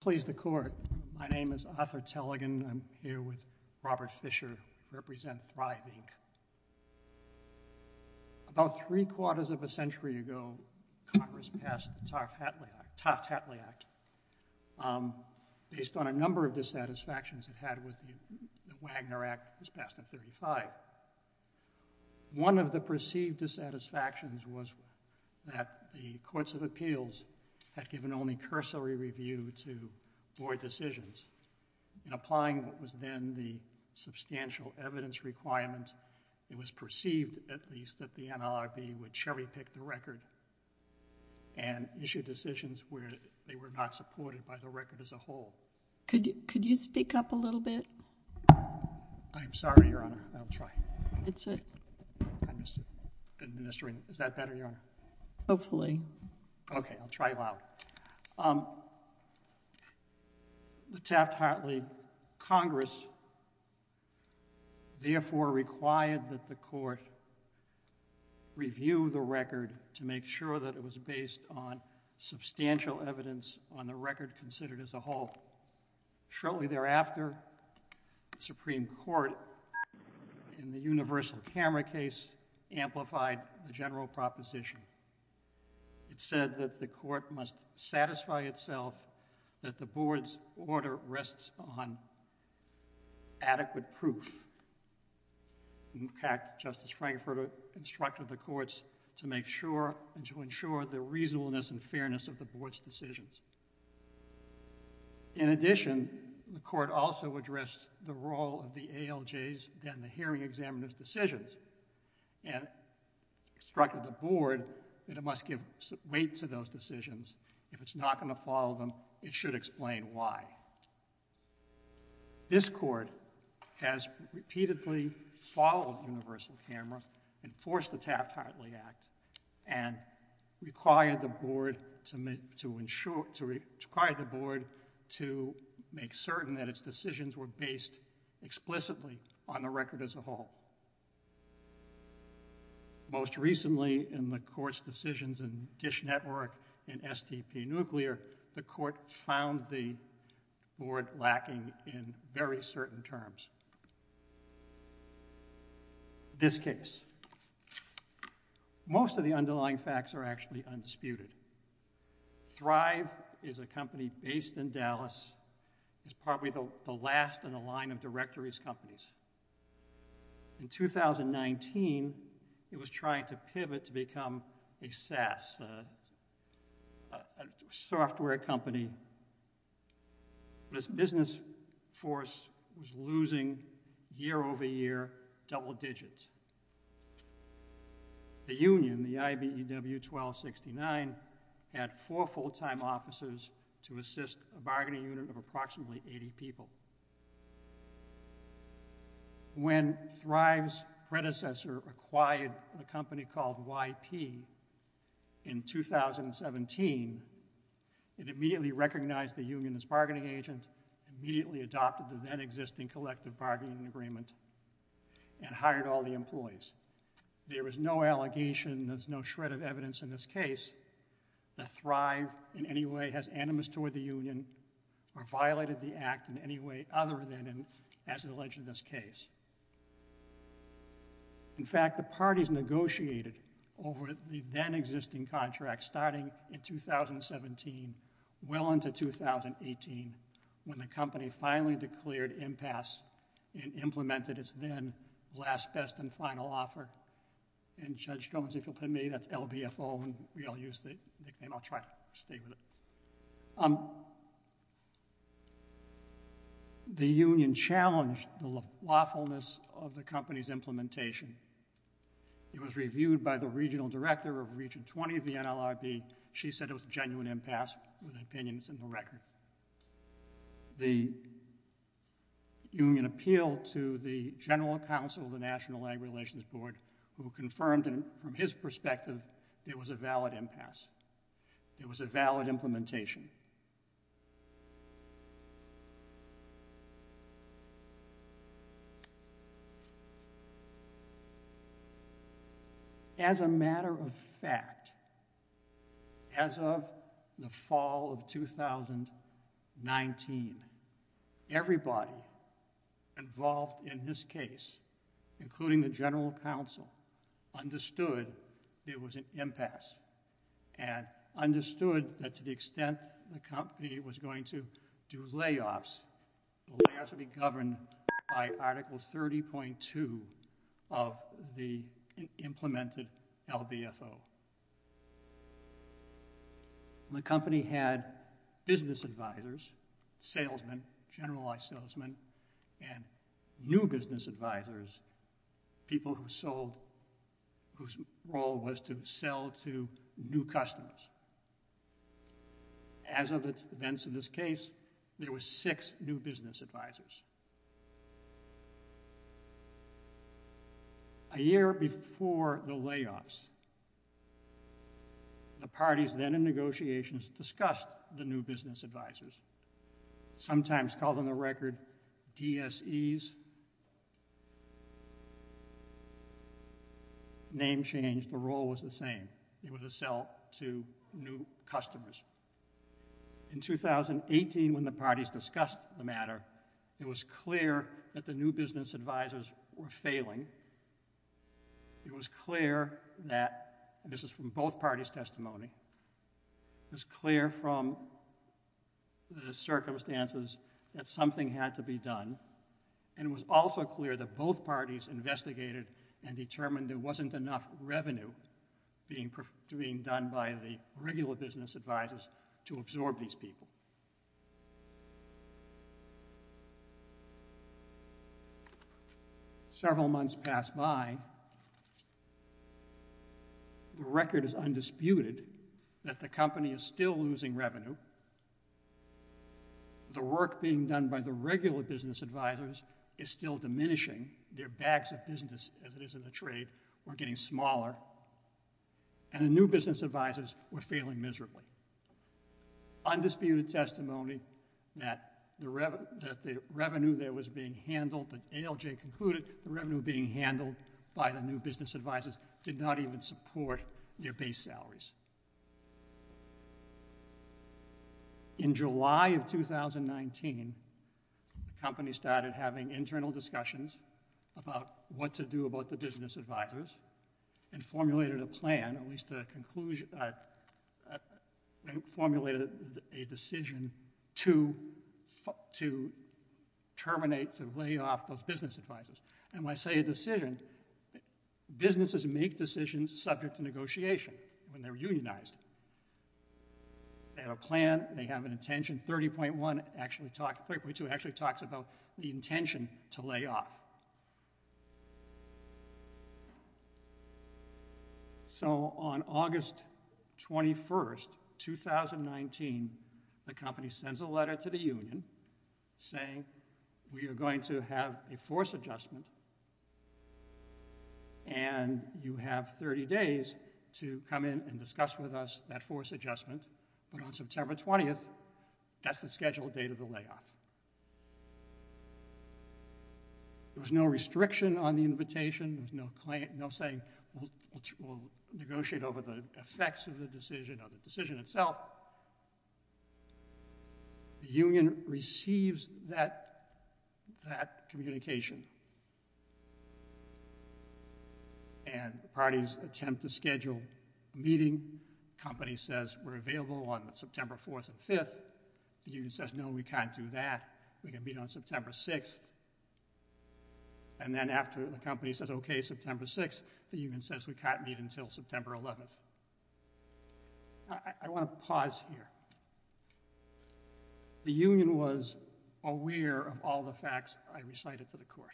Please the court, my name is Arthur Tellegen, I'm here with Robert Fisher, represent Thryv, Inc. About three quarters of a century ago, Congress passed the Taft-Hatley Act, based on a number of dissatisfactions it had with the Wagner Act that was passed in 1935. One of the perceived dissatisfactions was that the Courts of Appeals had given only void decisions in applying what was then the substantial evidence requirement, it was perceived at least that the NLRB would cherry pick the record and issue decisions where they were not supported by the record as a whole. Could you speak up a little bit? I'm sorry, Your Honor, I'll try. It's a... I missed it. Is that better, Your Honor? Hopefully. Okay, I'll try loud. The Taft-Hatley Congress, therefore, required that the Court review the record to make sure that it was based on substantial evidence on the record considered as a whole. Shortly thereafter, the Supreme Court, in the universal camera case, amplified the general proposition. It said that the Court must satisfy itself that the Board's order rests on adequate proof. In fact, Justice Frankfurter instructed the Courts to make sure and to ensure the reasonableness and fairness of the Board's decisions. In addition, the Court also addressed the role of the ALJs and the hearing examiner's decisions and instructed the Board that it must give weight to those decisions. If it's not going to follow them, it should explain why. This Court has repeatedly followed universal camera and forced the Taft-Hatley Act and required the Board to make certain that its decisions were based explicitly on the record as a whole. Most recently, in the Court's decisions in Dish Network and STP Nuclear, the Court found the Board lacking in very certain terms. This case. Most of the underlying facts are actually undisputed. Thrive is a company based in Dallas. It's probably the last in a line of directories companies. In 2019, it was trying to pivot to become a SaaS, a software company. This business force was losing, year over year, double digits. The union, the IBEW 1269, had four full-time officers to assist a bargaining unit of approximately 80 people. When Thrive's predecessor acquired a company called YP in 2017, it immediately recognized the union as bargaining agent, immediately adopted the then-existing collective bargaining agreement, and hired all the employees. There was no allegation, there's no shred of evidence in this case that Thrive in any way has animus toward the union or violated the act in any way other than as alleged in this case. In fact, the parties negotiated over the then-existing contract starting in 2017 well into 2018 when the company finally declared impasse and implemented its then last, best, and final offer. Judge Jones, if you'll permit me, that's LBFO and we all use that nickname, I'll try to stay with it. The union challenged the lawfulness of the company's implementation. It was reviewed by the regional director of Region 20 of the NLRB. She said it was a genuine impasse with opinions in the record. The union appealed to the general counsel of the National Ag Relations Board who confirmed from his perspective it was a valid impasse, it was a valid implementation. As a matter of fact, as of the fall of 2019, everybody involved in this case, including the general counsel, understood it was an impasse and understood that to the extent the company was going to do layoffs, the layoffs would be governed by Article 30.2 of the implemented LBFO. The company had business advisors, salesmen, generalized salesmen, and new business advisors, people whose role was to sell to new customers. As of its events in this case, there were six new business advisors. A year before the layoffs, the parties then in negotiations discussed the new business advisors, sometimes called on the record DSEs, name changed, the role was the same, it was to sell to new customers. In 2018, when the parties discussed the matter, it was clear that the new business advisors were failing, it was clear that, and this is from both parties' testimony, it was clear from the circumstances that something had to be done, and it was also clear that both parties investigated and determined there wasn't enough revenue being done by the regular business advisors to absorb these people. Several months passed by, the record is undisputed that the company is still losing revenue, the work being done by the regular business advisors is still diminishing, their bags of business as it is in the trade were getting smaller, and the new business advisors were failing miserably. Undisputed testimony that the revenue there was being handled, the ALJ concluded the revenue being handled by the new business advisors did not even support their base salaries. In July of 2019, the company started having internal discussions about what to do about the business advisors and formulated a plan, at least a conclusion, formulated a decision to terminate, to lay off those business advisors, and when I say a decision, businesses make decisions subject to negotiation, when they're unionized, they have a plan, they have an intention to lay off. So on August 21st, 2019, the company sends a letter to the union saying we are going to have a force adjustment, and you have 30 days to come in and discuss with us that force There was no restriction on the invitation, there was no saying we'll negotiate over the effects of the decision or the decision itself. The union receives that communication, and the parties attempt to schedule a meeting, company says we're available on September 4th and 5th, the union says no, we can't do that, we can meet on September 6th, and then after the company says okay, September 6th, the union says we can't meet until September 11th. I want to pause here. The union was aware of all the facts I recited to the court.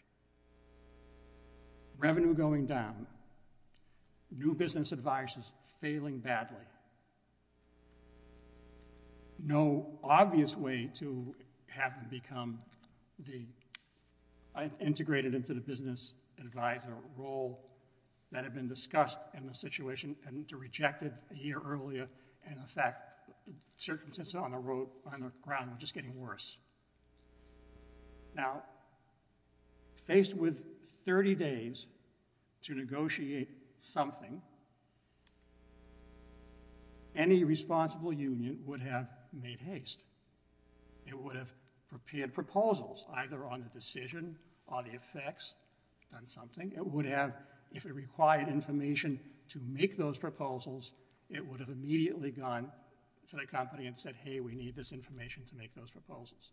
Revenue going down, new business advisors failing badly. And no obvious way to have them become integrated into the business advisor role that had been discussed in the situation, and to reject it a year earlier, and in fact, circumstances on the ground were just getting worse. Now, faced with 30 days to negotiate something, any responsible union would have made haste. It would have prepared proposals either on the decision or the effects on something. It would have, if it required information to make those proposals, it would have immediately gone to the company and said hey, we need this information to make those proposals.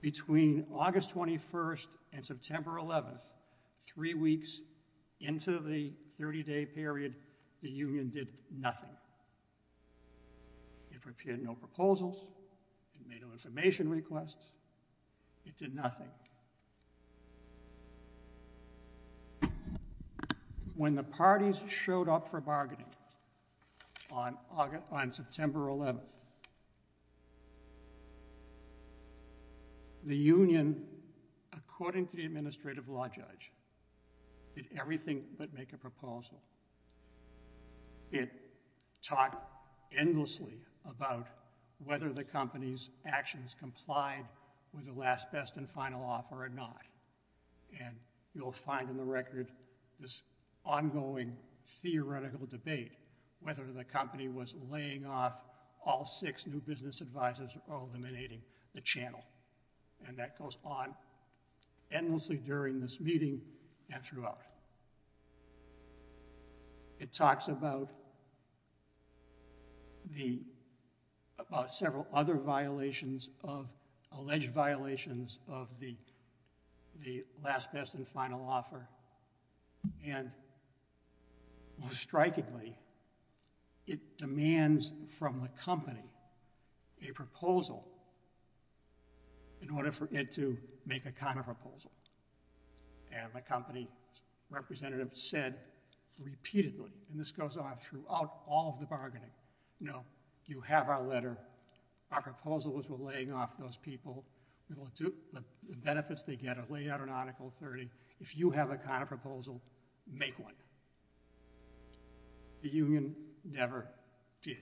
Between August 21st and September 11th, three weeks into the 30-day period, the union did nothing. It prepared no proposals, made no information requests, it did nothing. Now, when the parties showed up for bargaining on September 11th, the union, according to the administrative law judge, did everything but make a proposal. It talked endlessly about whether the company's actions complied with the last, best, and final offer or not, and you'll find in the record this ongoing theoretical debate whether the company was laying off all six new business advisors or eliminating the channel, and that goes on endlessly during this meeting and throughout. It talks about several other violations, alleged violations of the last, best, and final offer, and most strikingly, it demands from the company a proposal in order for it to make a kind of proposal, and the company's representative said repeatedly, and this goes on throughout all of the bargaining, no, you have our letter, our proposal is we're laying off those people, the benefits they get are laid out in Article 30, if you have a kind of proposal, make one. The union never did.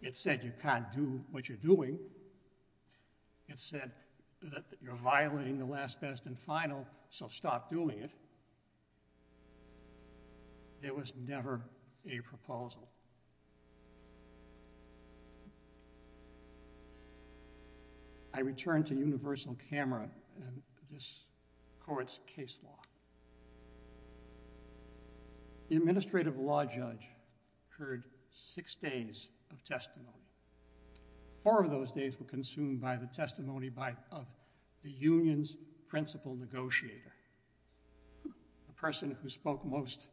It said you can't do what you're doing. It said that you're violating the last, best, and final, so stop doing it. There was never a proposal. I return to universal camera and this court's case law. The administrative law judge heard six days of testimony. Four of those days were consumed by the testimony of the union's principal negotiator, the person who spoke most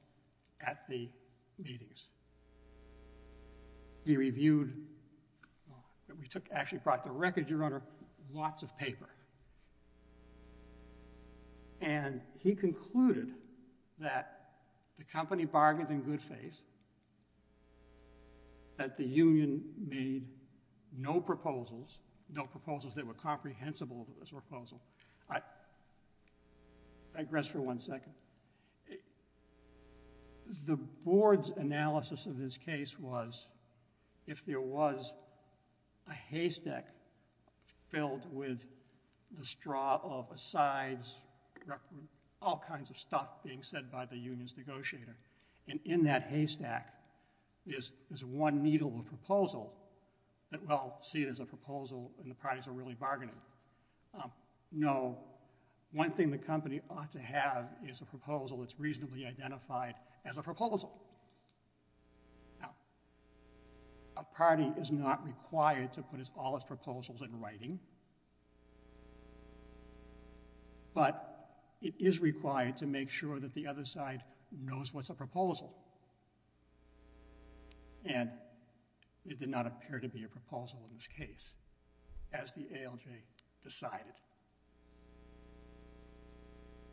at the meetings. He reviewed, we took, actually brought to record, Your Honor, lots of paper, and he concluded that the company bargained in good faith, that the union made no proposals, no proposals that were comprehensible to this proposal. I digress for one second. The board's analysis of this case was if there was a haystack filled with the straw of asides, all kinds of stuff being said by the union's negotiator, and in that haystack is one needle of proposal that, well, see it as a proposal and the parties are really bargaining. No, one thing the company ought to have is a proposal that's reasonably identified as a proposal. Now, a party is not required to put all its proposals in writing, but it is required to make sure that the other side knows what's a proposal, and it did not appear to be a proposal, and that's when the decision is made,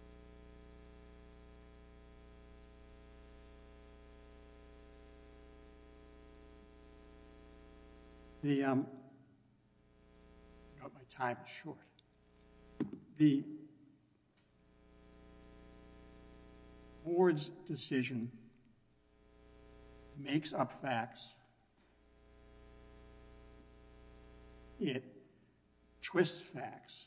and that's when the decision is decided. The board's decision makes up facts. It twists facts,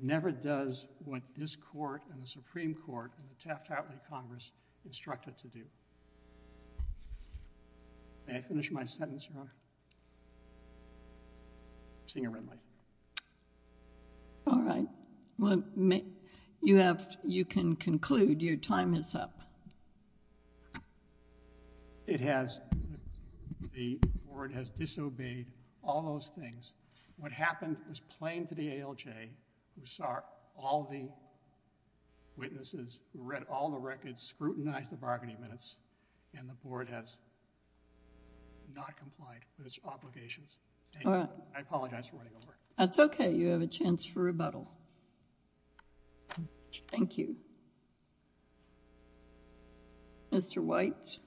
never does what this court and the Supreme Court and the Taft-Outley Congress instructed to do. May I finish my sentence, Your Honor? Senior Renly. All right. Well, you can conclude. Your time is up. It has... the board has disobeyed all those things. What happened was plain to the ALJ, who saw all the witnesses, who read all the records, scrutinized the bargaining minutes, and the board has not complied with its obligations. I apologize for running over. That's okay. You have a chance for rebuttal. Thank you. Mr. Weitz.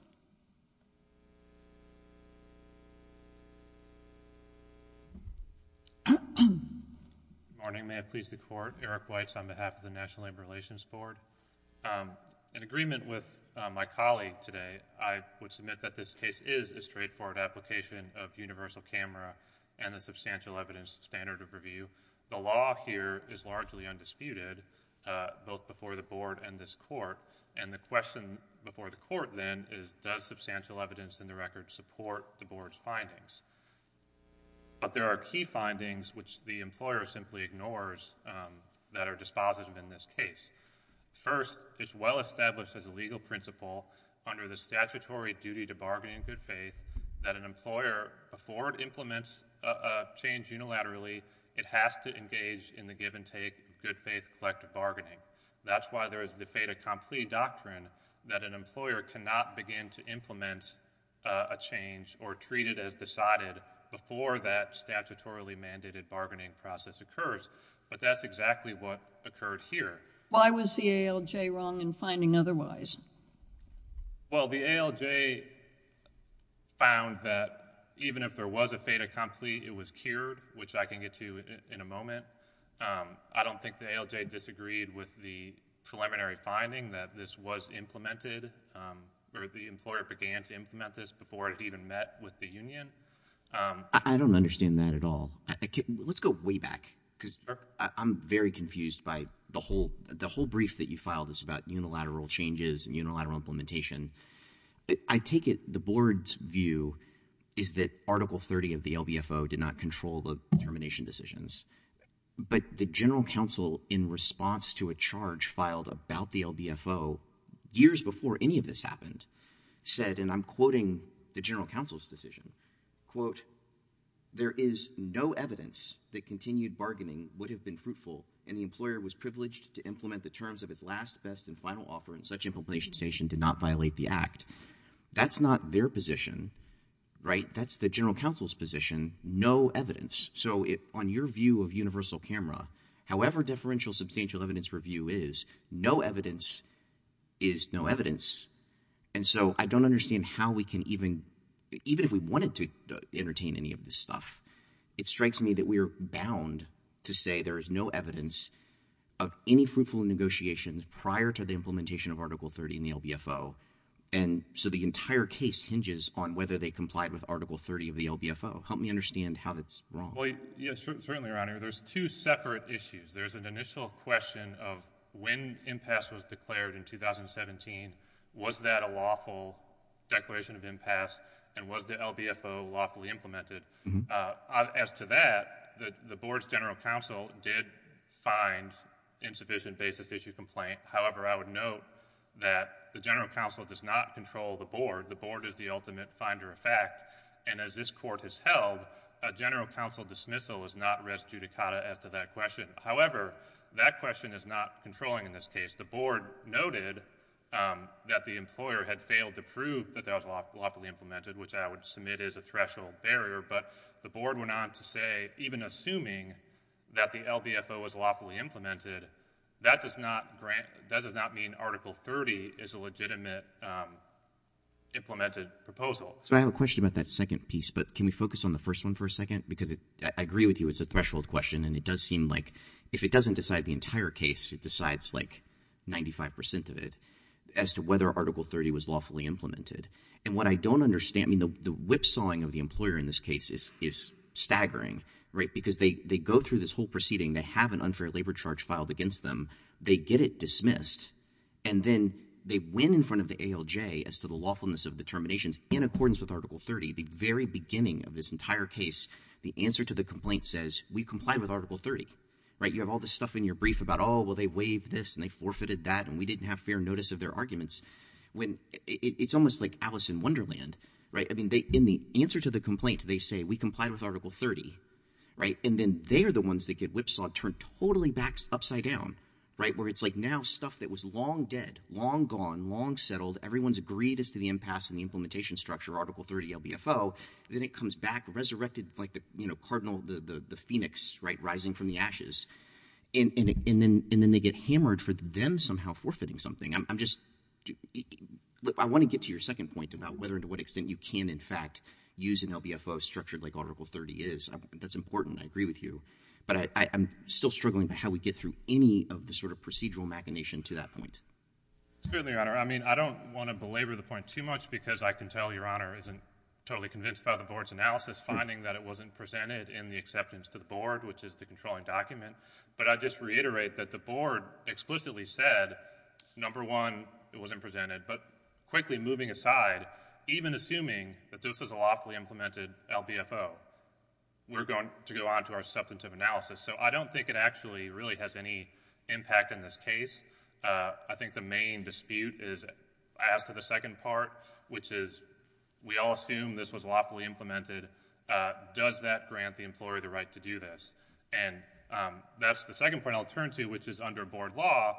Good morning. May it please the Court. Eric Weitz on behalf of the National Labor Relations Board. In agreement with my colleague today, I would submit that this case is a straightforward application of universal camera and the substantial evidence standard of review. The law here is largely undisputed, both before the board and this court, and the question before the court then is, does substantial evidence in the record support the board's findings? But there are key findings, which the employer simply ignores, that are dispositive in this case. First, it's well established as a legal principle under the statutory duty to bargaining good faith that an employer, before it implements a change unilaterally, it has to engage in the give and take good faith collective bargaining. That's why there is the fait accompli doctrine that an employer cannot begin to implement a change or treat it as decided before that statutorily mandated bargaining process occurs. But that's exactly what occurred here. Why was the ALJ wrong in finding otherwise? Well, the ALJ found that even if there was a fait accompli, it was cured, which I can get to in a moment. I don't think the ALJ disagreed with the preliminary finding that this was implemented, or the employer began to implement this before it even met with the union. I don't understand that at all. Let's go way back, because I'm very confused by the whole brief that you filed is about unilateral changes and unilateral implementation. I take it the board's view is that Article 30 of the LBFO did not control the termination decisions. But the general counsel in response to a charge filed about the LBFO years before any of this happened said, and I'm quoting the general counsel's decision, quote, there is no evidence that continued bargaining would have been fruitful, and the employer was privileged to implement the terms of his last, best, and final offer, and such implementation did not violate the act. That's not their position, right? That's the general counsel's position. No evidence. So on your view of universal camera, however differential substantial evidence review is, no evidence is no evidence. And so I don't understand how we can even, even if we wanted to entertain any of this stuff, it strikes me that we are bound to say there is no evidence of any fruitful negotiations prior to the implementation of Article 30 in the LBFO, and so the entire case hinges on whether they complied with Article 30 of the LBFO. Help me understand how that's wrong. Well, yes, certainly, Your Honor. There's two separate issues. There's an initial question of when impasse was declared in 2017, was that a lawful declaration of impasse, and was the LBFO lawfully implemented? As to that, the board's general counsel did find insufficient basis to issue a complaint. However, I would note that the general counsel does not control the board. The board is the ultimate finder of fact, and as this Court has held, a general counsel dismissal is not res judicata as to that question. However, that question is not controlling in this case. The board noted that the employer had failed to prove that that was lawfully implemented, which I would submit is a threshold barrier, but the board went on to say even assuming that the LBFO was lawfully implemented, that does not grant, that does not mean Article 30 is a legitimate implemented proposal. So I have a question about that second piece, but can we focus on the first one for a second? Because I agree with you it's a threshold question, and it does seem like if it doesn't decide the entire case, it decides like 95 percent of it as to whether Article 30 was lawfully implemented. And what I don't understand, I mean, the whipsawing of the employer in this case is staggering, right? Because they go through this whole proceeding. They have an unfair labor charge filed against them. They get it dismissed, and then they win in front of the ALJ as to the lawfulness of the terminations in accordance with Article 30. The very beginning of this entire case, the answer to the complaint says, we complied with Article 30, right? You have all this stuff in your brief about, oh, well, they waived this, and they forfeited that, and we didn't have fair notice of their arguments, when it's almost like Alice in Wonderland, right? I mean, in the answer to the complaint, they say, we complied with Article 30, right? And then they're the ones that get whipsawed, turned totally back, upside down, right? Where it's like now, stuff that was long dead, long gone, long settled, everyone's agreed as to the impasse and the implementation structure, Article 30, LBFO, then it comes back resurrected like the, you know, cardinal, the phoenix, right, rising from the ashes. And then they get hammered for them somehow forfeiting something. I'm just, I want to get to your second point about whether and to what extent you can, in fact, use an LBFO structured like Article 30 is. That's important. I agree with you. But I'm still struggling about how we get through any of the sort of procedural machination to that point. It's certainly, Your Honor. I mean, I don't want to belabor the point too much, because I can tell Your Honor isn't totally convinced by the board's analysis, finding that it wasn't presented in the acceptance to the board, which is the controlling document. But I just reiterate that the board explicitly said, number one, it wasn't presented. But quickly moving aside, even assuming that this is a lawfully implemented LBFO, we're going to go on to our substantive analysis. So I don't think it actually really has any impact in this case. I think the main dispute is as to the second part, which is we all assume this was lawfully implemented. Does that grant the employer the right to do this? And that's the second point I'll turn to, which is under board law,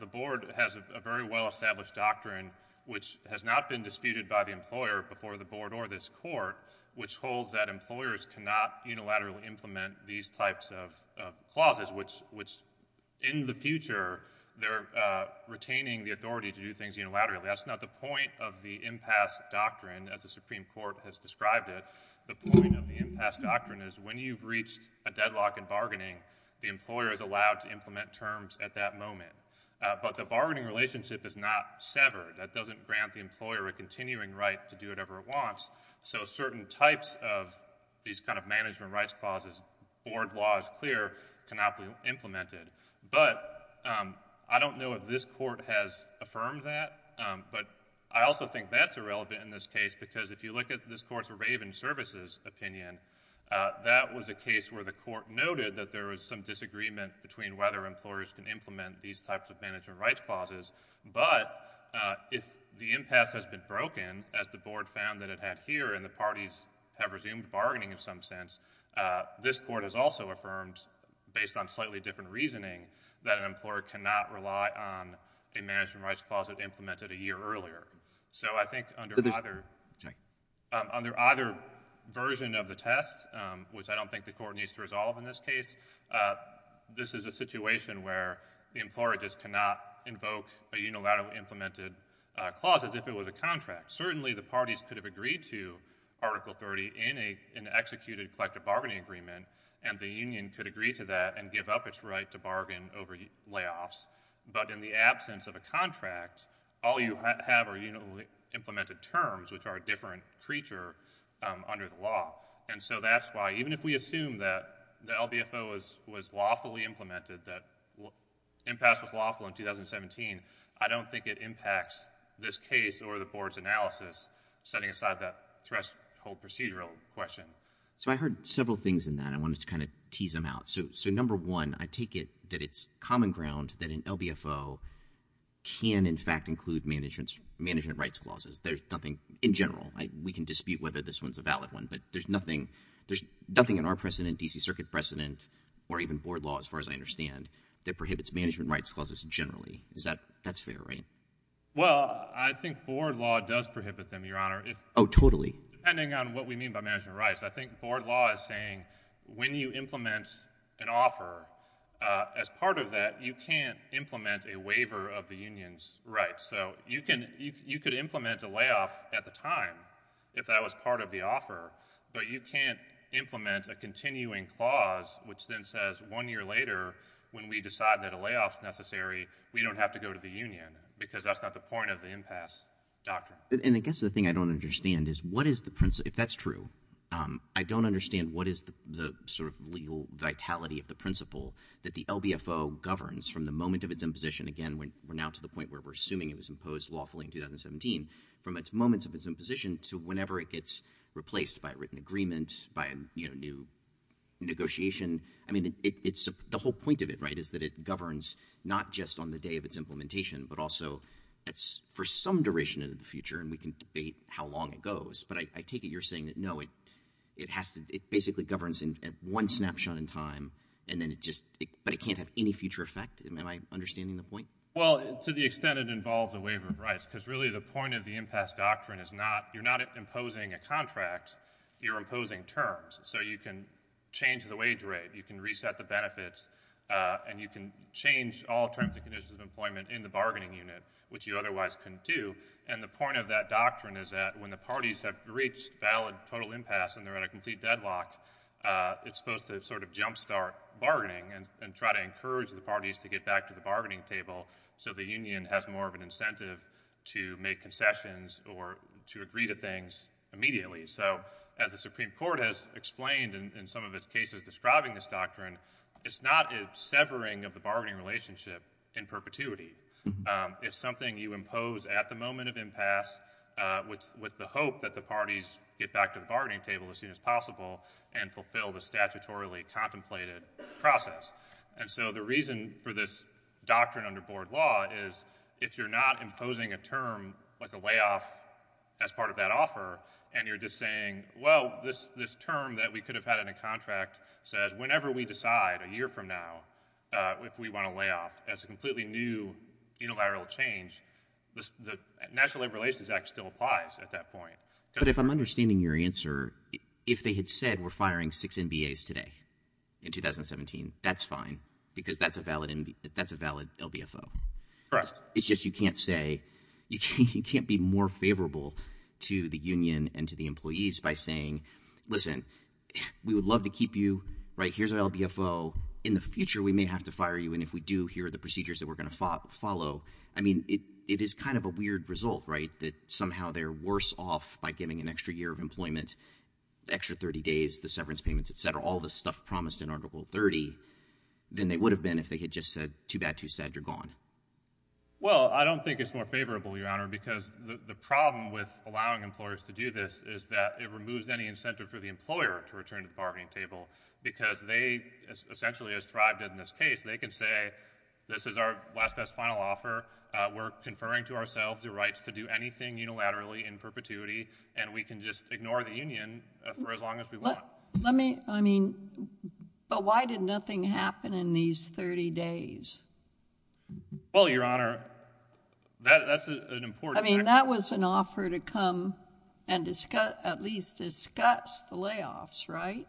the board has a very well-established doctrine which has not been disputed by the employer before the board or this court, which holds that employers cannot unilaterally implement these types of clauses, which in the future, they're retaining the authority to do things unilaterally. That's not the point of the impasse doctrine as the Supreme Court has described it. The point of the impasse doctrine is when you've reached a deadlock in bargaining, the employer is allowed to implement terms at that moment. But the bargaining relationship is not severed. That doesn't grant the employer a continuing right to do whatever it wants. So certain types of these kind of management rights clauses, board law is clear, cannot be implemented. But I don't know if this court has affirmed that, but I also think that's irrelevant in this case because if you look at this court's Raven Services opinion, that was a case where the court noted that there was some disagreement between whether employers can implement these types of management rights clauses. But if the impasse has been broken, as the board found that it had here, and the parties have resumed bargaining in some sense, this court has also affirmed, based on slightly different reasoning, that an employer cannot rely on a management rights clause that implemented a year earlier. So I think under either version of the test, which I don't think the court needs to resolve in this case, this is a situation where the employer just cannot invoke a unilateral implemented clause as if it was a contract. Certainly, the parties could have agreed to Article 30 in an executed collective bargaining agreement, and the union could agree to that and give up its right to bargain over layoffs. But in the absence of a contract, all you have are unilaterally implemented terms, which are a different creature under the law. And so that's why, even if we assume that the LBFO was lawfully implemented, that impasse was lawful in 2017, I don't think it impacts this case or the board's analysis, setting aside that threshold procedural question. So I heard several things in that. I wanted to kind of tease them out. So number one, I take it that it's common ground that an LBFO can, in fact, include management rights clauses. There's nothing in general. We can dispute whether this one's a valid one, but there's nothing in our precedent, D.C. Circuit precedent, or even board law, as far as I understand, that prohibits management rights clauses generally. Is that fair, right? Well, I think board law does prohibit them, Your Honor. Oh, totally. Depending on what we mean by management rights. I think board law is saying when you implement an offer, as part of that, you can't implement a waiver of the union's rights. So you could implement a layoff at the time, if that was part of the offer, but you can't implement a continuing clause, which then says one year later, when we decide that a layoff's necessary, we don't have to go to the union, because that's not the point of the impasse doctrine. And I guess the thing I don't understand is what is the principle, if that's true, I don't understand what is the sort of legal vitality of the principle that the LBFO governs from the moment of its imposition, again, we're now to the point where we're assuming it was imposed lawfully in 2017, from its moment of its imposition to whenever it gets replaced by a written agreement, by a new negotiation. I mean, the whole point of it, right, is that it governs not just on the day of its implementation, but also for some duration into the future, and we can debate how long it goes. But I take it you're saying that, no, it basically governs in one snapshot in time, and then it just, but it can't have any future effect? Am I understanding the point? Well, to the extent it involves a waiver of rights, because really the point of the impasse doctrine is not, you're not imposing a contract, you're imposing terms. So you can change the wage rate, you can reset the benefits, and you can change all terms and conditions of employment in the bargaining unit, which you otherwise couldn't do. And the point of that doctrine is that when the parties have reached valid total impasse and they're at a complete deadlock, it's supposed to sort of jumpstart bargaining and try to encourage the parties to get back to the bargaining table so the union has more of an incentive to make concessions or to agree to things immediately. So as the Supreme Court has explained in some of its cases describing this doctrine, it's not a severing of the bargaining relationship in perpetuity. It's something you impose at the moment of impasse with the hope that the parties get back to the bargaining table as soon as possible and fulfill the statutorily contemplated process. And so the reason for this doctrine under board law is if you're not imposing a term like a layoff as part of that offer and you're just saying, well, this term that we could have had in a contract says whenever we decide a year from now if we want a layoff as a completely new unilateral change, the National Labor Relations Act still applies at that point. But if I'm understanding your answer, if they had said we're firing six NBAs today in 2017, that's fine because that's a valid LBFO. Correct. It's just you can't say, you can't be more favorable to the union and to the employees by saying, listen, we would love to keep you, right? Here's our LBFO. In the future, we may have to fire you. And if we do, here are the procedures that we're going to follow. I mean, it is kind of a weird result, right, that somehow they're worse off by giving an extra year of employment, extra 30 days, the severance payments, et cetera, all the stuff promised in Article 30 than they would have been if they had just said, too bad, too sad, you're gone. Well, I don't think it's more favorable, Your Honor, because the problem with allowing employers to do this is that it removes any incentive for the employer to return to the bargaining table because they essentially have thrived in this case. They can say, this is our last, best, final offer. We're conferring to ourselves the rights to do anything unilaterally in perpetuity, and we can just ignore the union for as long as we want. Let me, I mean, but why did nothing happen in these 30 days? Well, Your Honor, that's an important point. I mean, that was an offer to come and discuss, at least discuss the layoffs, right?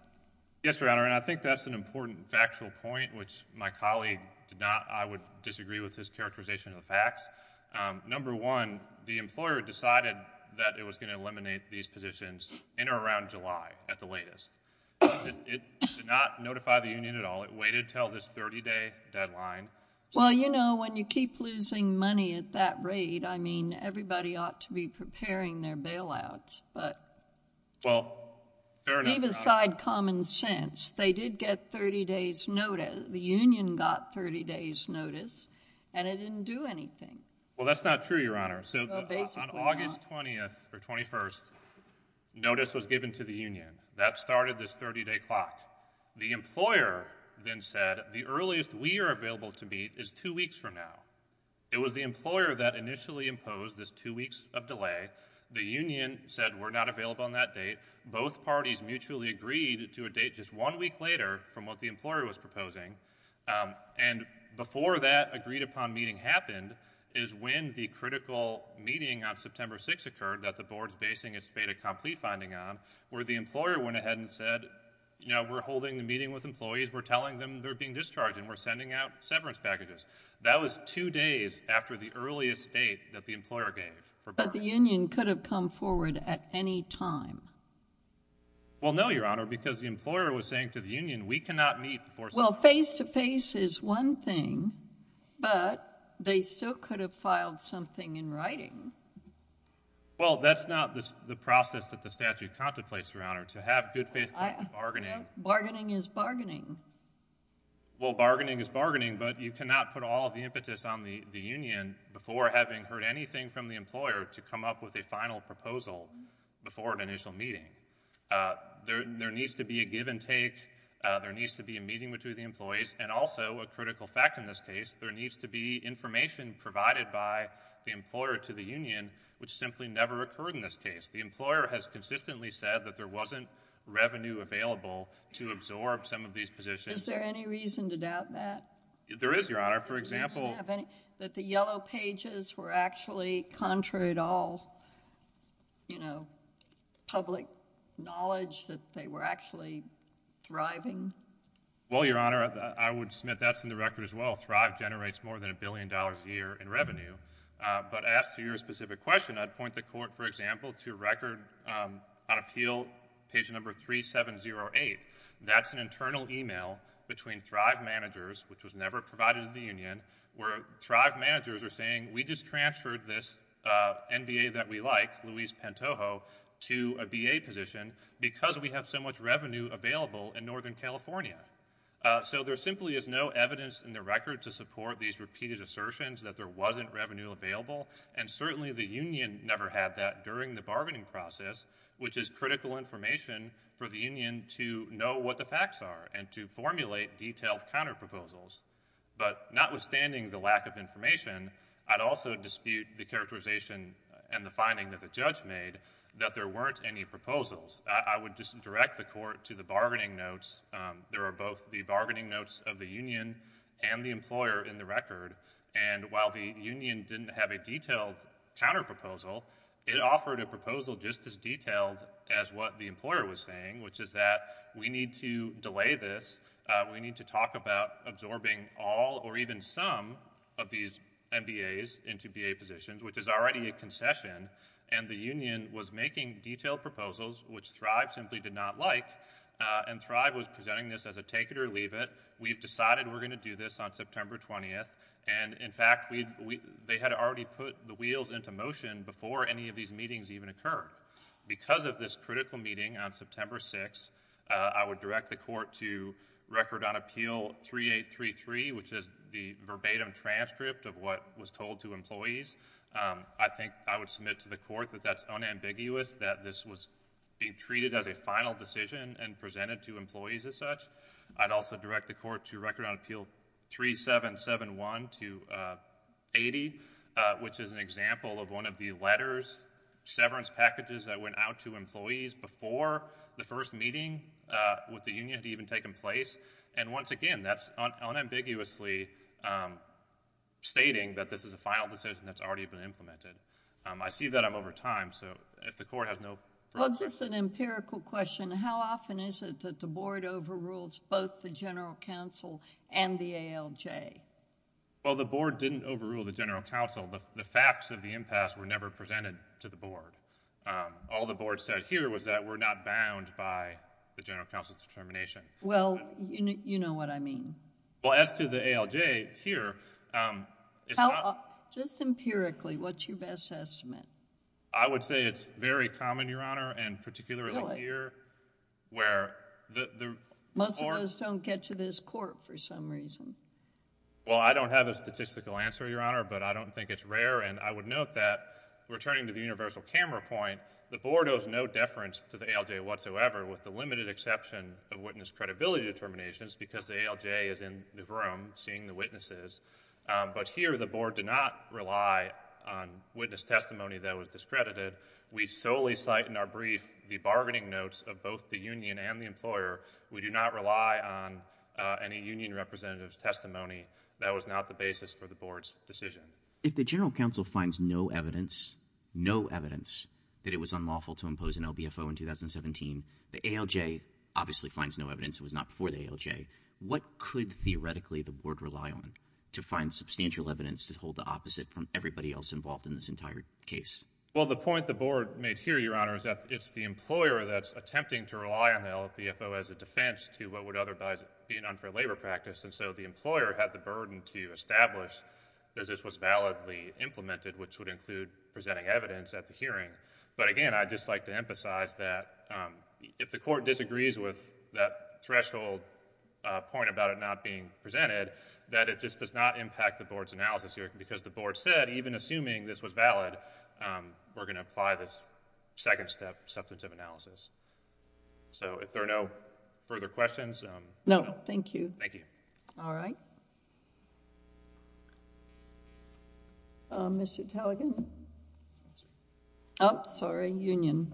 Yes, Your Honor, and I think that's an important factual point, which my colleague did not, I would disagree with his characterization of the facts. Number one, the employer decided that it was going to eliminate these positions in or around at the latest. It did not notify the union at all. It waited until this 30-day deadline. Well, you know, when you keep losing money at that rate, I mean, everybody ought to be preparing their bailouts, but leave aside common sense. They did get 30 days notice. The union got 30 days notice, and it didn't do anything. Well, that's not true, Your Honor. So on August 20th or 21st, notice was given to the union. That started this 30-day clock. The employer then said the earliest we are available to meet is two weeks from now. It was the employer that initially imposed this two weeks of delay. The union said we're not available on that date. Both parties mutually agreed to a date just one week later from what the employer was meeting on September 6th occurred, that the board's basing its beta complete finding on, where the employer went ahead and said, you know, we're holding the meeting with employees. We're telling them they're being discharged, and we're sending out severance packages. That was two days after the earliest date that the employer gave. But the union could have come forward at any time. Well, no, Your Honor, because the employer was saying to the union, we cannot meet before face-to-face is one thing, but they still could have filed something in writing. Well, that's not the process that the statute contemplates, Your Honor, to have good faith bargaining. Bargaining is bargaining. Well, bargaining is bargaining, but you cannot put all of the impetus on the union before having heard anything from the employer to come up with a final proposal before an initial meeting. There needs to be a give and take. There needs to be a meeting between the employees, and also, a critical fact in this case, there needs to be information provided by the employer to the union, which simply never occurred in this case. The employer has consistently said that there wasn't revenue available to absorb some of these positions. Is there any reason to doubt that? There is, Your Honor. For example... That the yellow pages were actually contrary to all, you know, public knowledge that they were actually thriving? Well, Your Honor, I would submit that's in the record as well. Thrive generates more than a billion dollars a year in revenue, but as to your specific question, I'd point the Court, for example, to a record on appeal, page number 3708. That's an internal email between Thrive managers, which was never provided to the union, where Thrive managers are saying, we just transferred this NBA that we like, Luis Pantojo, to a BA position because we have so much revenue available in Northern California. So there simply is no evidence in the record to support these repeated assertions that there wasn't revenue available, and certainly, the union never had that during the bargaining process, which is critical information for the union to know what the facts are and to formulate detailed counterproposals. But notwithstanding the lack of information, I'd also dispute the characterization and the finding that the judge made that there weren't any proposals. I would just direct the Court to the bargaining notes. There are both the bargaining notes of the union and the employer in the record, and while the union didn't have a detailed counterproposal, it offered a proposal just as detailed as what the employer was saying, which is that we need to delay this. We need to talk about absorbing all or even some of these NBAs into BA positions, which is already a concession, and the union was making detailed proposals, which Thrive simply did not like, and Thrive was presenting this as a take it or leave it. We've decided we're going to do this on September 20th, and in fact, they had already put the wheels into motion before any of these meetings even occurred. Because of this critical meeting on September 6th, I would direct the Court to Record on Appeal 3833, which is the verbatim transcript of what was told to employees. I think I would submit to the Court that that's unambiguous, that this was being treated as a final decision and presented to employees as such. I'd also direct the Court to Record on Appeal 3771-80, which is an example of one of the letters, severance packages that went out to employees before the first meeting with the union had even taken place, and once again, that's unambiguously stating that this is a final decision that's already been implemented. I see that I'm over time, so if the Court has no further questions... Well, just an empirical question. How often is it that the Board overrules both the General Counsel and the ALJ? Well, the Board didn't overrule the General Counsel. The facts of the impasse were never presented to the Board. All the Board said here was that we're not bound by the General Counsel's determination. Well, you know what I mean. Well, as to the ALJ here, it's not... Just empirically, what's your best estimate? I would say it's very common, Your Honor, and particularly here where the Board... Most of those don't get to this Court for some reason. Well, I don't have a statistical answer, Your Honor, but I don't think it's rare, and I would note that, returning to the universal camera point, the Board owes no deference to the ALJ whatsoever with the limited exception of witness credibility determinations because the ALJ is in the room seeing the witnesses, but here the Board did not rely on witness testimony that was discredited. We solely cite in our brief the bargaining notes of both the union and the employer. We do not rely on any union representative's testimony. That was not the basis for the Board's decision. If the General Counsel finds no evidence, no evidence, that it was unlawful to impose an LBFO in 2017, the ALJ obviously finds no evidence. It was not before the ALJ. What could, theoretically, the Board rely on to find substantial evidence to hold the opposite from everybody else involved in this entire case? Well, the point the Board made here, Your Honor, is that it's the employer that's attempting to rely on the LBFO as a defense to what would otherwise be an unfair labor practice, and so the employer had the burden to establish that this was validly implemented, which would include presenting evidence at the hearing, but again, I'd just like to emphasize that if the Court disagrees with that threshold point about it not being presented, that it just does not impact the Board's analysis here because the Board said, even assuming this was valid, we're going to apply this second step substantive analysis. So if there are no further questions... No, thank you. Thank you. All right. Mr. Talegan? Oh, sorry, Union.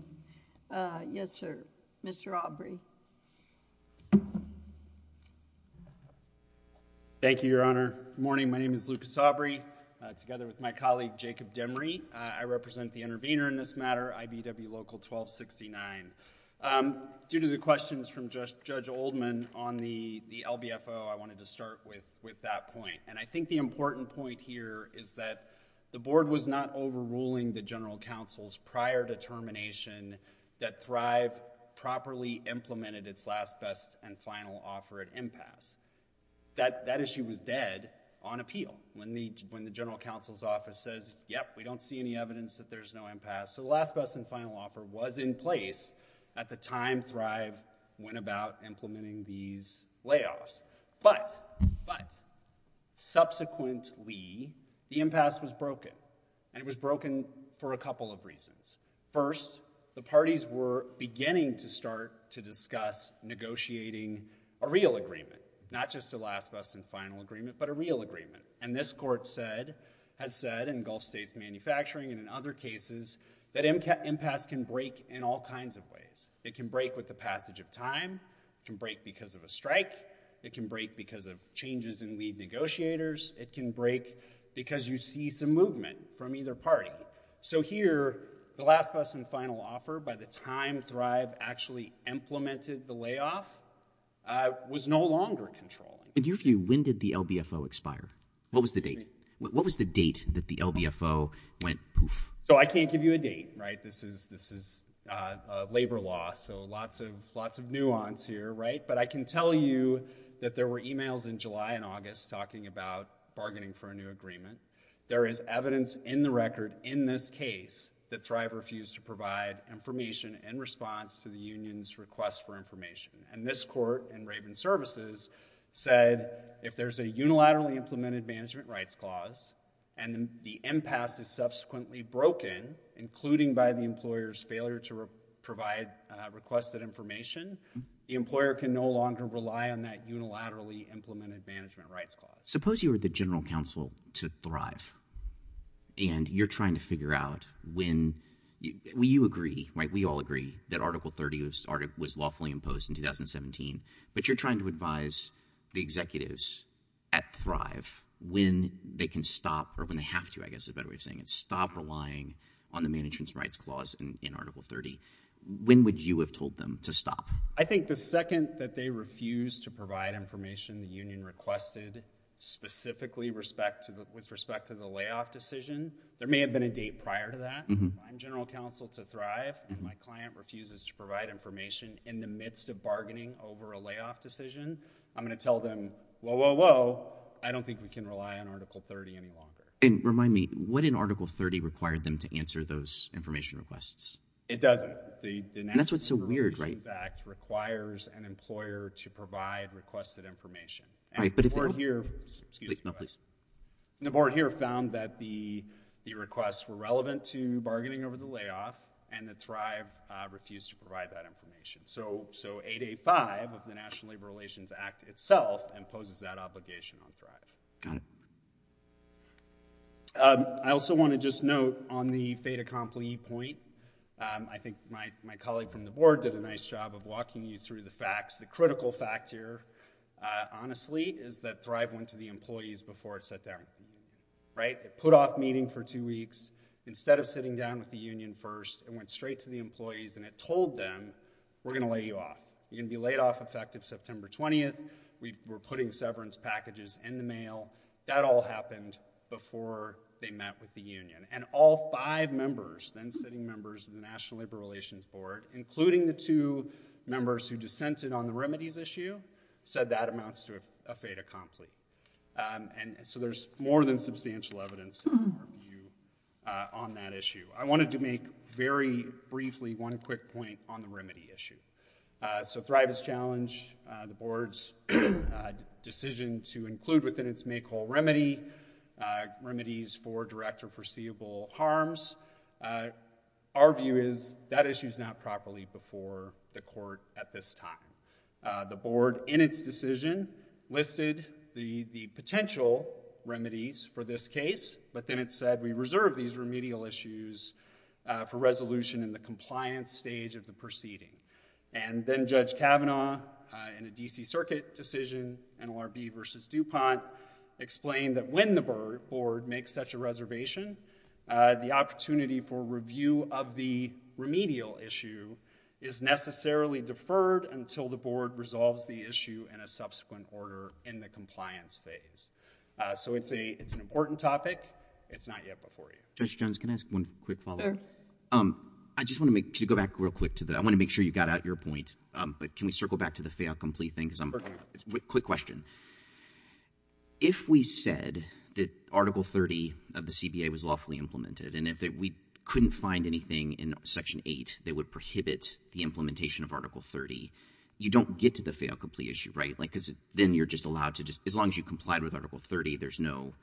Yes, sir. Mr. Aubrey. Thank you, Your Honor. Good morning. My name is Lucas Aubrey, together with my colleague, Jacob Demry. I represent the intervener in this matter, IBW Local 1269. Due to the questions from Judge Oldman on the LBFO, I wanted to start with that point, and I think the important point here is that the Board was not overruling the General Counsel's prior determination that Thrive properly implemented its last, best, and final offer at impasse. That issue was dead on appeal when the General Counsel's office says, yep, we don't see any evidence that there's no impasse. So the last, best, and final offer was in place at the time Thrive went about implementing these layoffs. But, but, subsequently, the impasse was broken, and it was broken for a couple of reasons. First, the parties were beginning to start to discuss negotiating a real agreement, not just a last, best, and final agreement, but a real agreement. And this Court said, has said in Gulf States Manufacturing and in other cases, that impasse can break in all kinds of ways. It can break with the passage of time, it can break because of a strike, it can break because of changes in lead negotiators, it can break because you see some movement from either party. So here, the last, best, and final offer, by the time Thrive actually implemented the layoff, was no longer controlling. In your view, when did the LBFO expire? What was the date? What was the date that the LBFO went poof? So I can't give you a date, right? This is, this is labor law, so lots of, lots of nuance here, right? But I can tell you that there were emails in July and August talking about bargaining for a new agreement. There is evidence in the record in this case that Thrive refused to provide information in response to the union's request for information. And this court in Raven Services said, if there's a unilaterally implemented management rights clause, and the impasse is subsequently broken, including by the employer's failure to provide requested information, the employer can no longer rely on that unilaterally implemented management rights clause. Suppose you were the general counsel to Thrive, and you're trying to figure out when, you agree, right? We all agree that Article 30 was lawfully imposed in 2017. But you're trying to advise the executives at Thrive when they can stop, or when they have to, I guess is a better way of saying it, stop relying on the management's rights clause in Article 30. When would you have told them to stop? I think the second that they refused to provide information the union requested, specifically with respect to the layoff decision. There may have been a date prior to that. If I'm the general counsel to Thrive, and my client refuses to provide information in the midst of bargaining over a layoff decision, I'm going to tell them, whoa, whoa, whoa, I don't think we can rely on Article 30 any longer. And remind me, what in Article 30 required them to answer those information requests? It doesn't. The National Employment Relations Act requires an employer to provide requested information. The board here found that the requests were relevant to bargaining over the layoff, and that Thrive refused to provide that information. So 8A5 of the National Labor Relations Act itself imposes that obligation on Thrive. Got it. I also want to just note, on the fait accompli point, I think my colleague from the board did a nice job of walking you through the facts. The critical fact here, honestly, is that Thrive went to the employees before it sat down, right? It put off meeting for two weeks. Instead of sitting down with the union first, it went straight to the employees, and it told them, we're going to lay you off. You're going to be laid off effective September 20th. We're putting severance packages in the mail. That all happened before they met with the union. And all five members, then sitting members, of the National Labor Relations Board, including the two members who dissented on the remedies issue, said that amounts to a fait accompli. And so there's more than substantial evidence in our view on that issue. I wanted to make, very briefly, one quick point on the remedy issue. So Thrive's challenge, the board's decision to include within its make-all remedy, remedies for direct or foreseeable harms, our view is that issue's not properly before the court at this time. The board, in its decision, listed the potential remedies for this case, but then it said, we reserve these remedial issues for resolution in the compliance stage of the proceeding. And then Judge Kavanaugh, in a D.C. Circuit decision, NLRB versus DuPont, explained that when the board makes such a reservation, the opportunity for review of the remedial issue is necessarily deferred until the board resolves the issue in a subsequent order in the compliance phase. So it's an important topic. It's not yet before you. Judge Jones, can I ask one quick follow-up? I just want to make, to go back real quick to that. I want to make sure you got out your point. But can we circle back to the fait accompli thing? Because I'm, quick question. If we said that Article 30 of the CBA was lawfully implemented, and if we couldn't find anything in Section 8 that would prohibit the implementation of Article 30, you don't get to the fait accompli issue, right? Like, because then you're just allowed to just, as long as you complied with Article 30, there's no,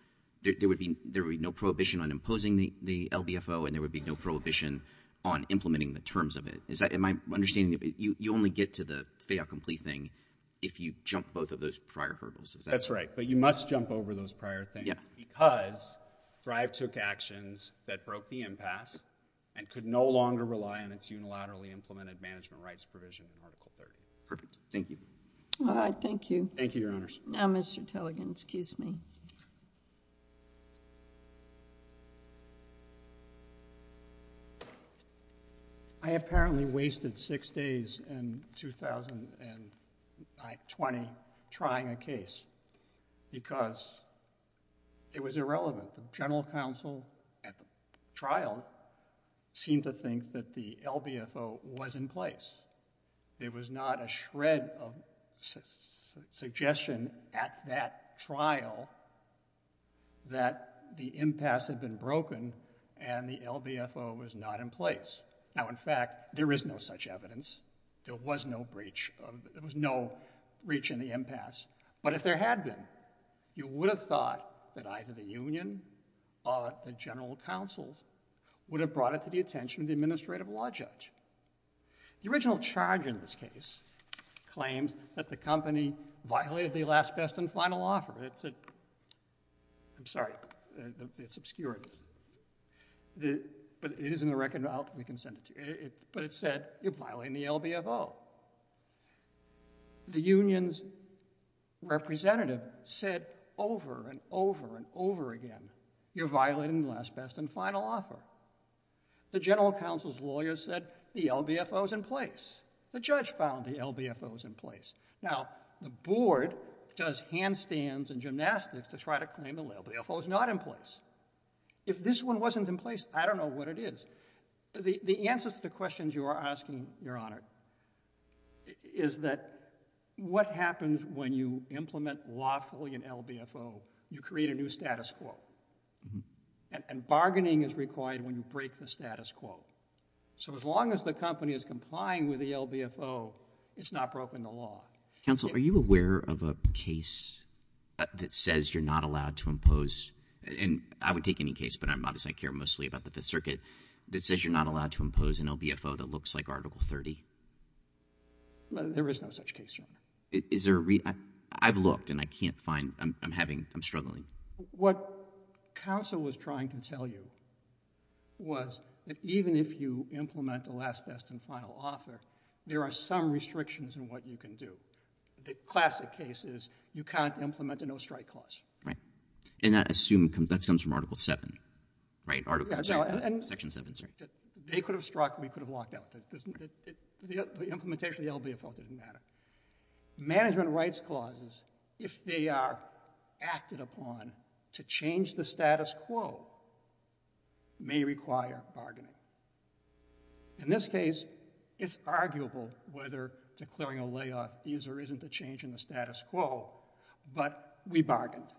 there would be no prohibition on imposing the LBFO, and there would be no prohibition on implementing the terms of it. Is that, in my understanding, you only get to the fait accompli thing if you jump both of those prior hurdles. That's right. But you must jump over those prior things. Yeah. Because Thrive took actions that broke the impasse and could no longer rely on its unilaterally implemented management rights provision in Article 30. Perfect. Thank you. All right. Thank you. Thank you, Your Honors. Now, Mr. Tilleghan, excuse me. I apparently wasted six days in 2020 trying a case because it was irrelevant. The General Counsel at the trial seemed to think that the LBFO was in place. There was not a shred of suggestion at that trial that the impasse had been broken and the LBFO was not in place. Now, in fact, there is no such evidence. There was no breach of, there was no breach in the impasse. But if there had been, you would have thought that either the Union or the General Counsel would have brought it to the attention of the Administrative Law Judge. The original charge in this case claims that the company violated the last, best, and final offer. It said, I'm sorry, it's obscurity. But it is in the record, I'll, we can send it to you. But it said, you're violating the LBFO. The Union's representative said over and over and over again, you're violating the last, best, and final offer. The General Counsel's lawyer said the LBFO's in place. The judge found the LBFO's in place. Now, the board does handstands and gymnastics to try to claim the LBFO's not in place. If this one wasn't in place, I don't know what it is. The answer to the questions you are asking, Your Honor, is that what happens when you implement lawfully an LBFO? You create a new status quo. And bargaining is required when you break the status quo. So as long as the company is complying with the LBFO, it's not broken the law. Counsel, are you aware of a case that says you're not allowed to impose, and I would take any case, but I'm obviously, I care mostly about the Fifth Circuit, that says you're not allowed to impose an LBFO that looks like Article 30? There is no such case, Your Honor. I've looked and I can't find, I'm having, I'm struggling. What counsel was trying to tell you was that even if you implement the last, best, and final author, there are some restrictions in what you can do. The classic case is you can't implement a no-strike clause. Right. And I assume that comes from Article 7, right? Section 7, sorry. They could have struck, we could have locked out. The implementation of the LBFO didn't matter. Management rights clauses, if they are acted upon to change the status quo, may require bargaining. In this case, it's arguable whether declaring a layoff is or isn't a change in the status quo, but we bargained.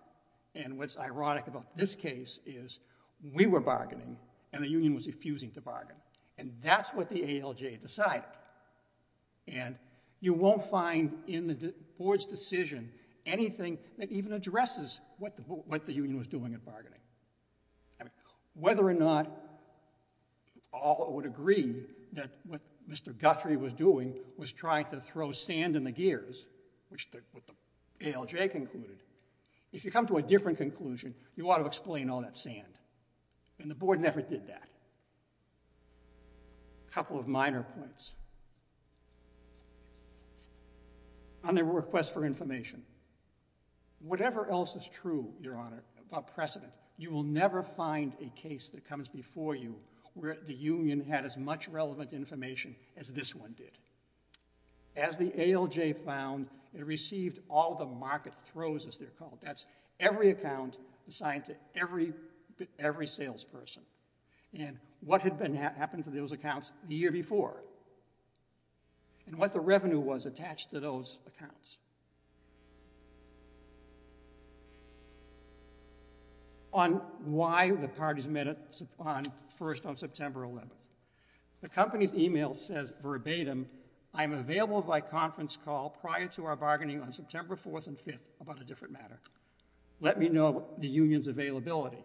And what's ironic about this case is we were bargaining and the union was refusing to bargain. And that's what the ALJ decided. And you won't find in the board's decision anything that even addresses what the union was doing at bargaining. Whether or not all would agree that what Mr. Guthrie was doing was trying to throw sand in the gears, which the ALJ concluded. If you come to a different conclusion, you ought to explain all that sand. And the board never did that. A couple of minor points. On their request for information. Whatever else is true, Your Honor, about precedent, you will never find a case that comes before you where the union had as much relevant information as this one did. As the ALJ found, it received all the market throws, as they're called. That's every account assigned to every salesperson. And what had happened to those accounts the year before? And what the revenue was attached to those accounts? On why the parties met first on September 11th. The company's email says verbatim, I'm available by conference call prior to our bargaining on September 4th and 5th about a different matter. Let me know the union's availability.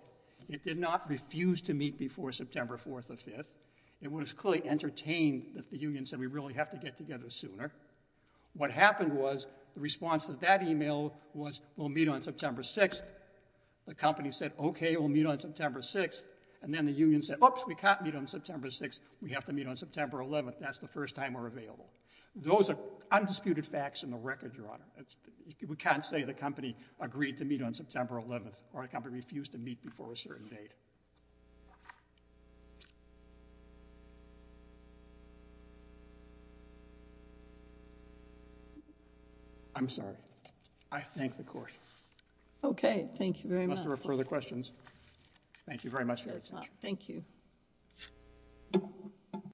It did not refuse to meet before September 4th or 5th. It was clearly entertained that the union said, we really have to get together sooner. What happened was the response to that email was, we'll meet on September 6th. The company said, OK, we'll meet on September 6th. And then the union said, oops, we can't meet on September 6th. We have to meet on September 11th. That's the first time we're available. Those are undisputed facts in the record, Your Honor. We can't say the company agreed to meet on September 11th or the company refused to meet before a certain date. I'm sorry. I thank the court. OK. Thank you very much. For further questions. Thank you very much for your attention. Thank you.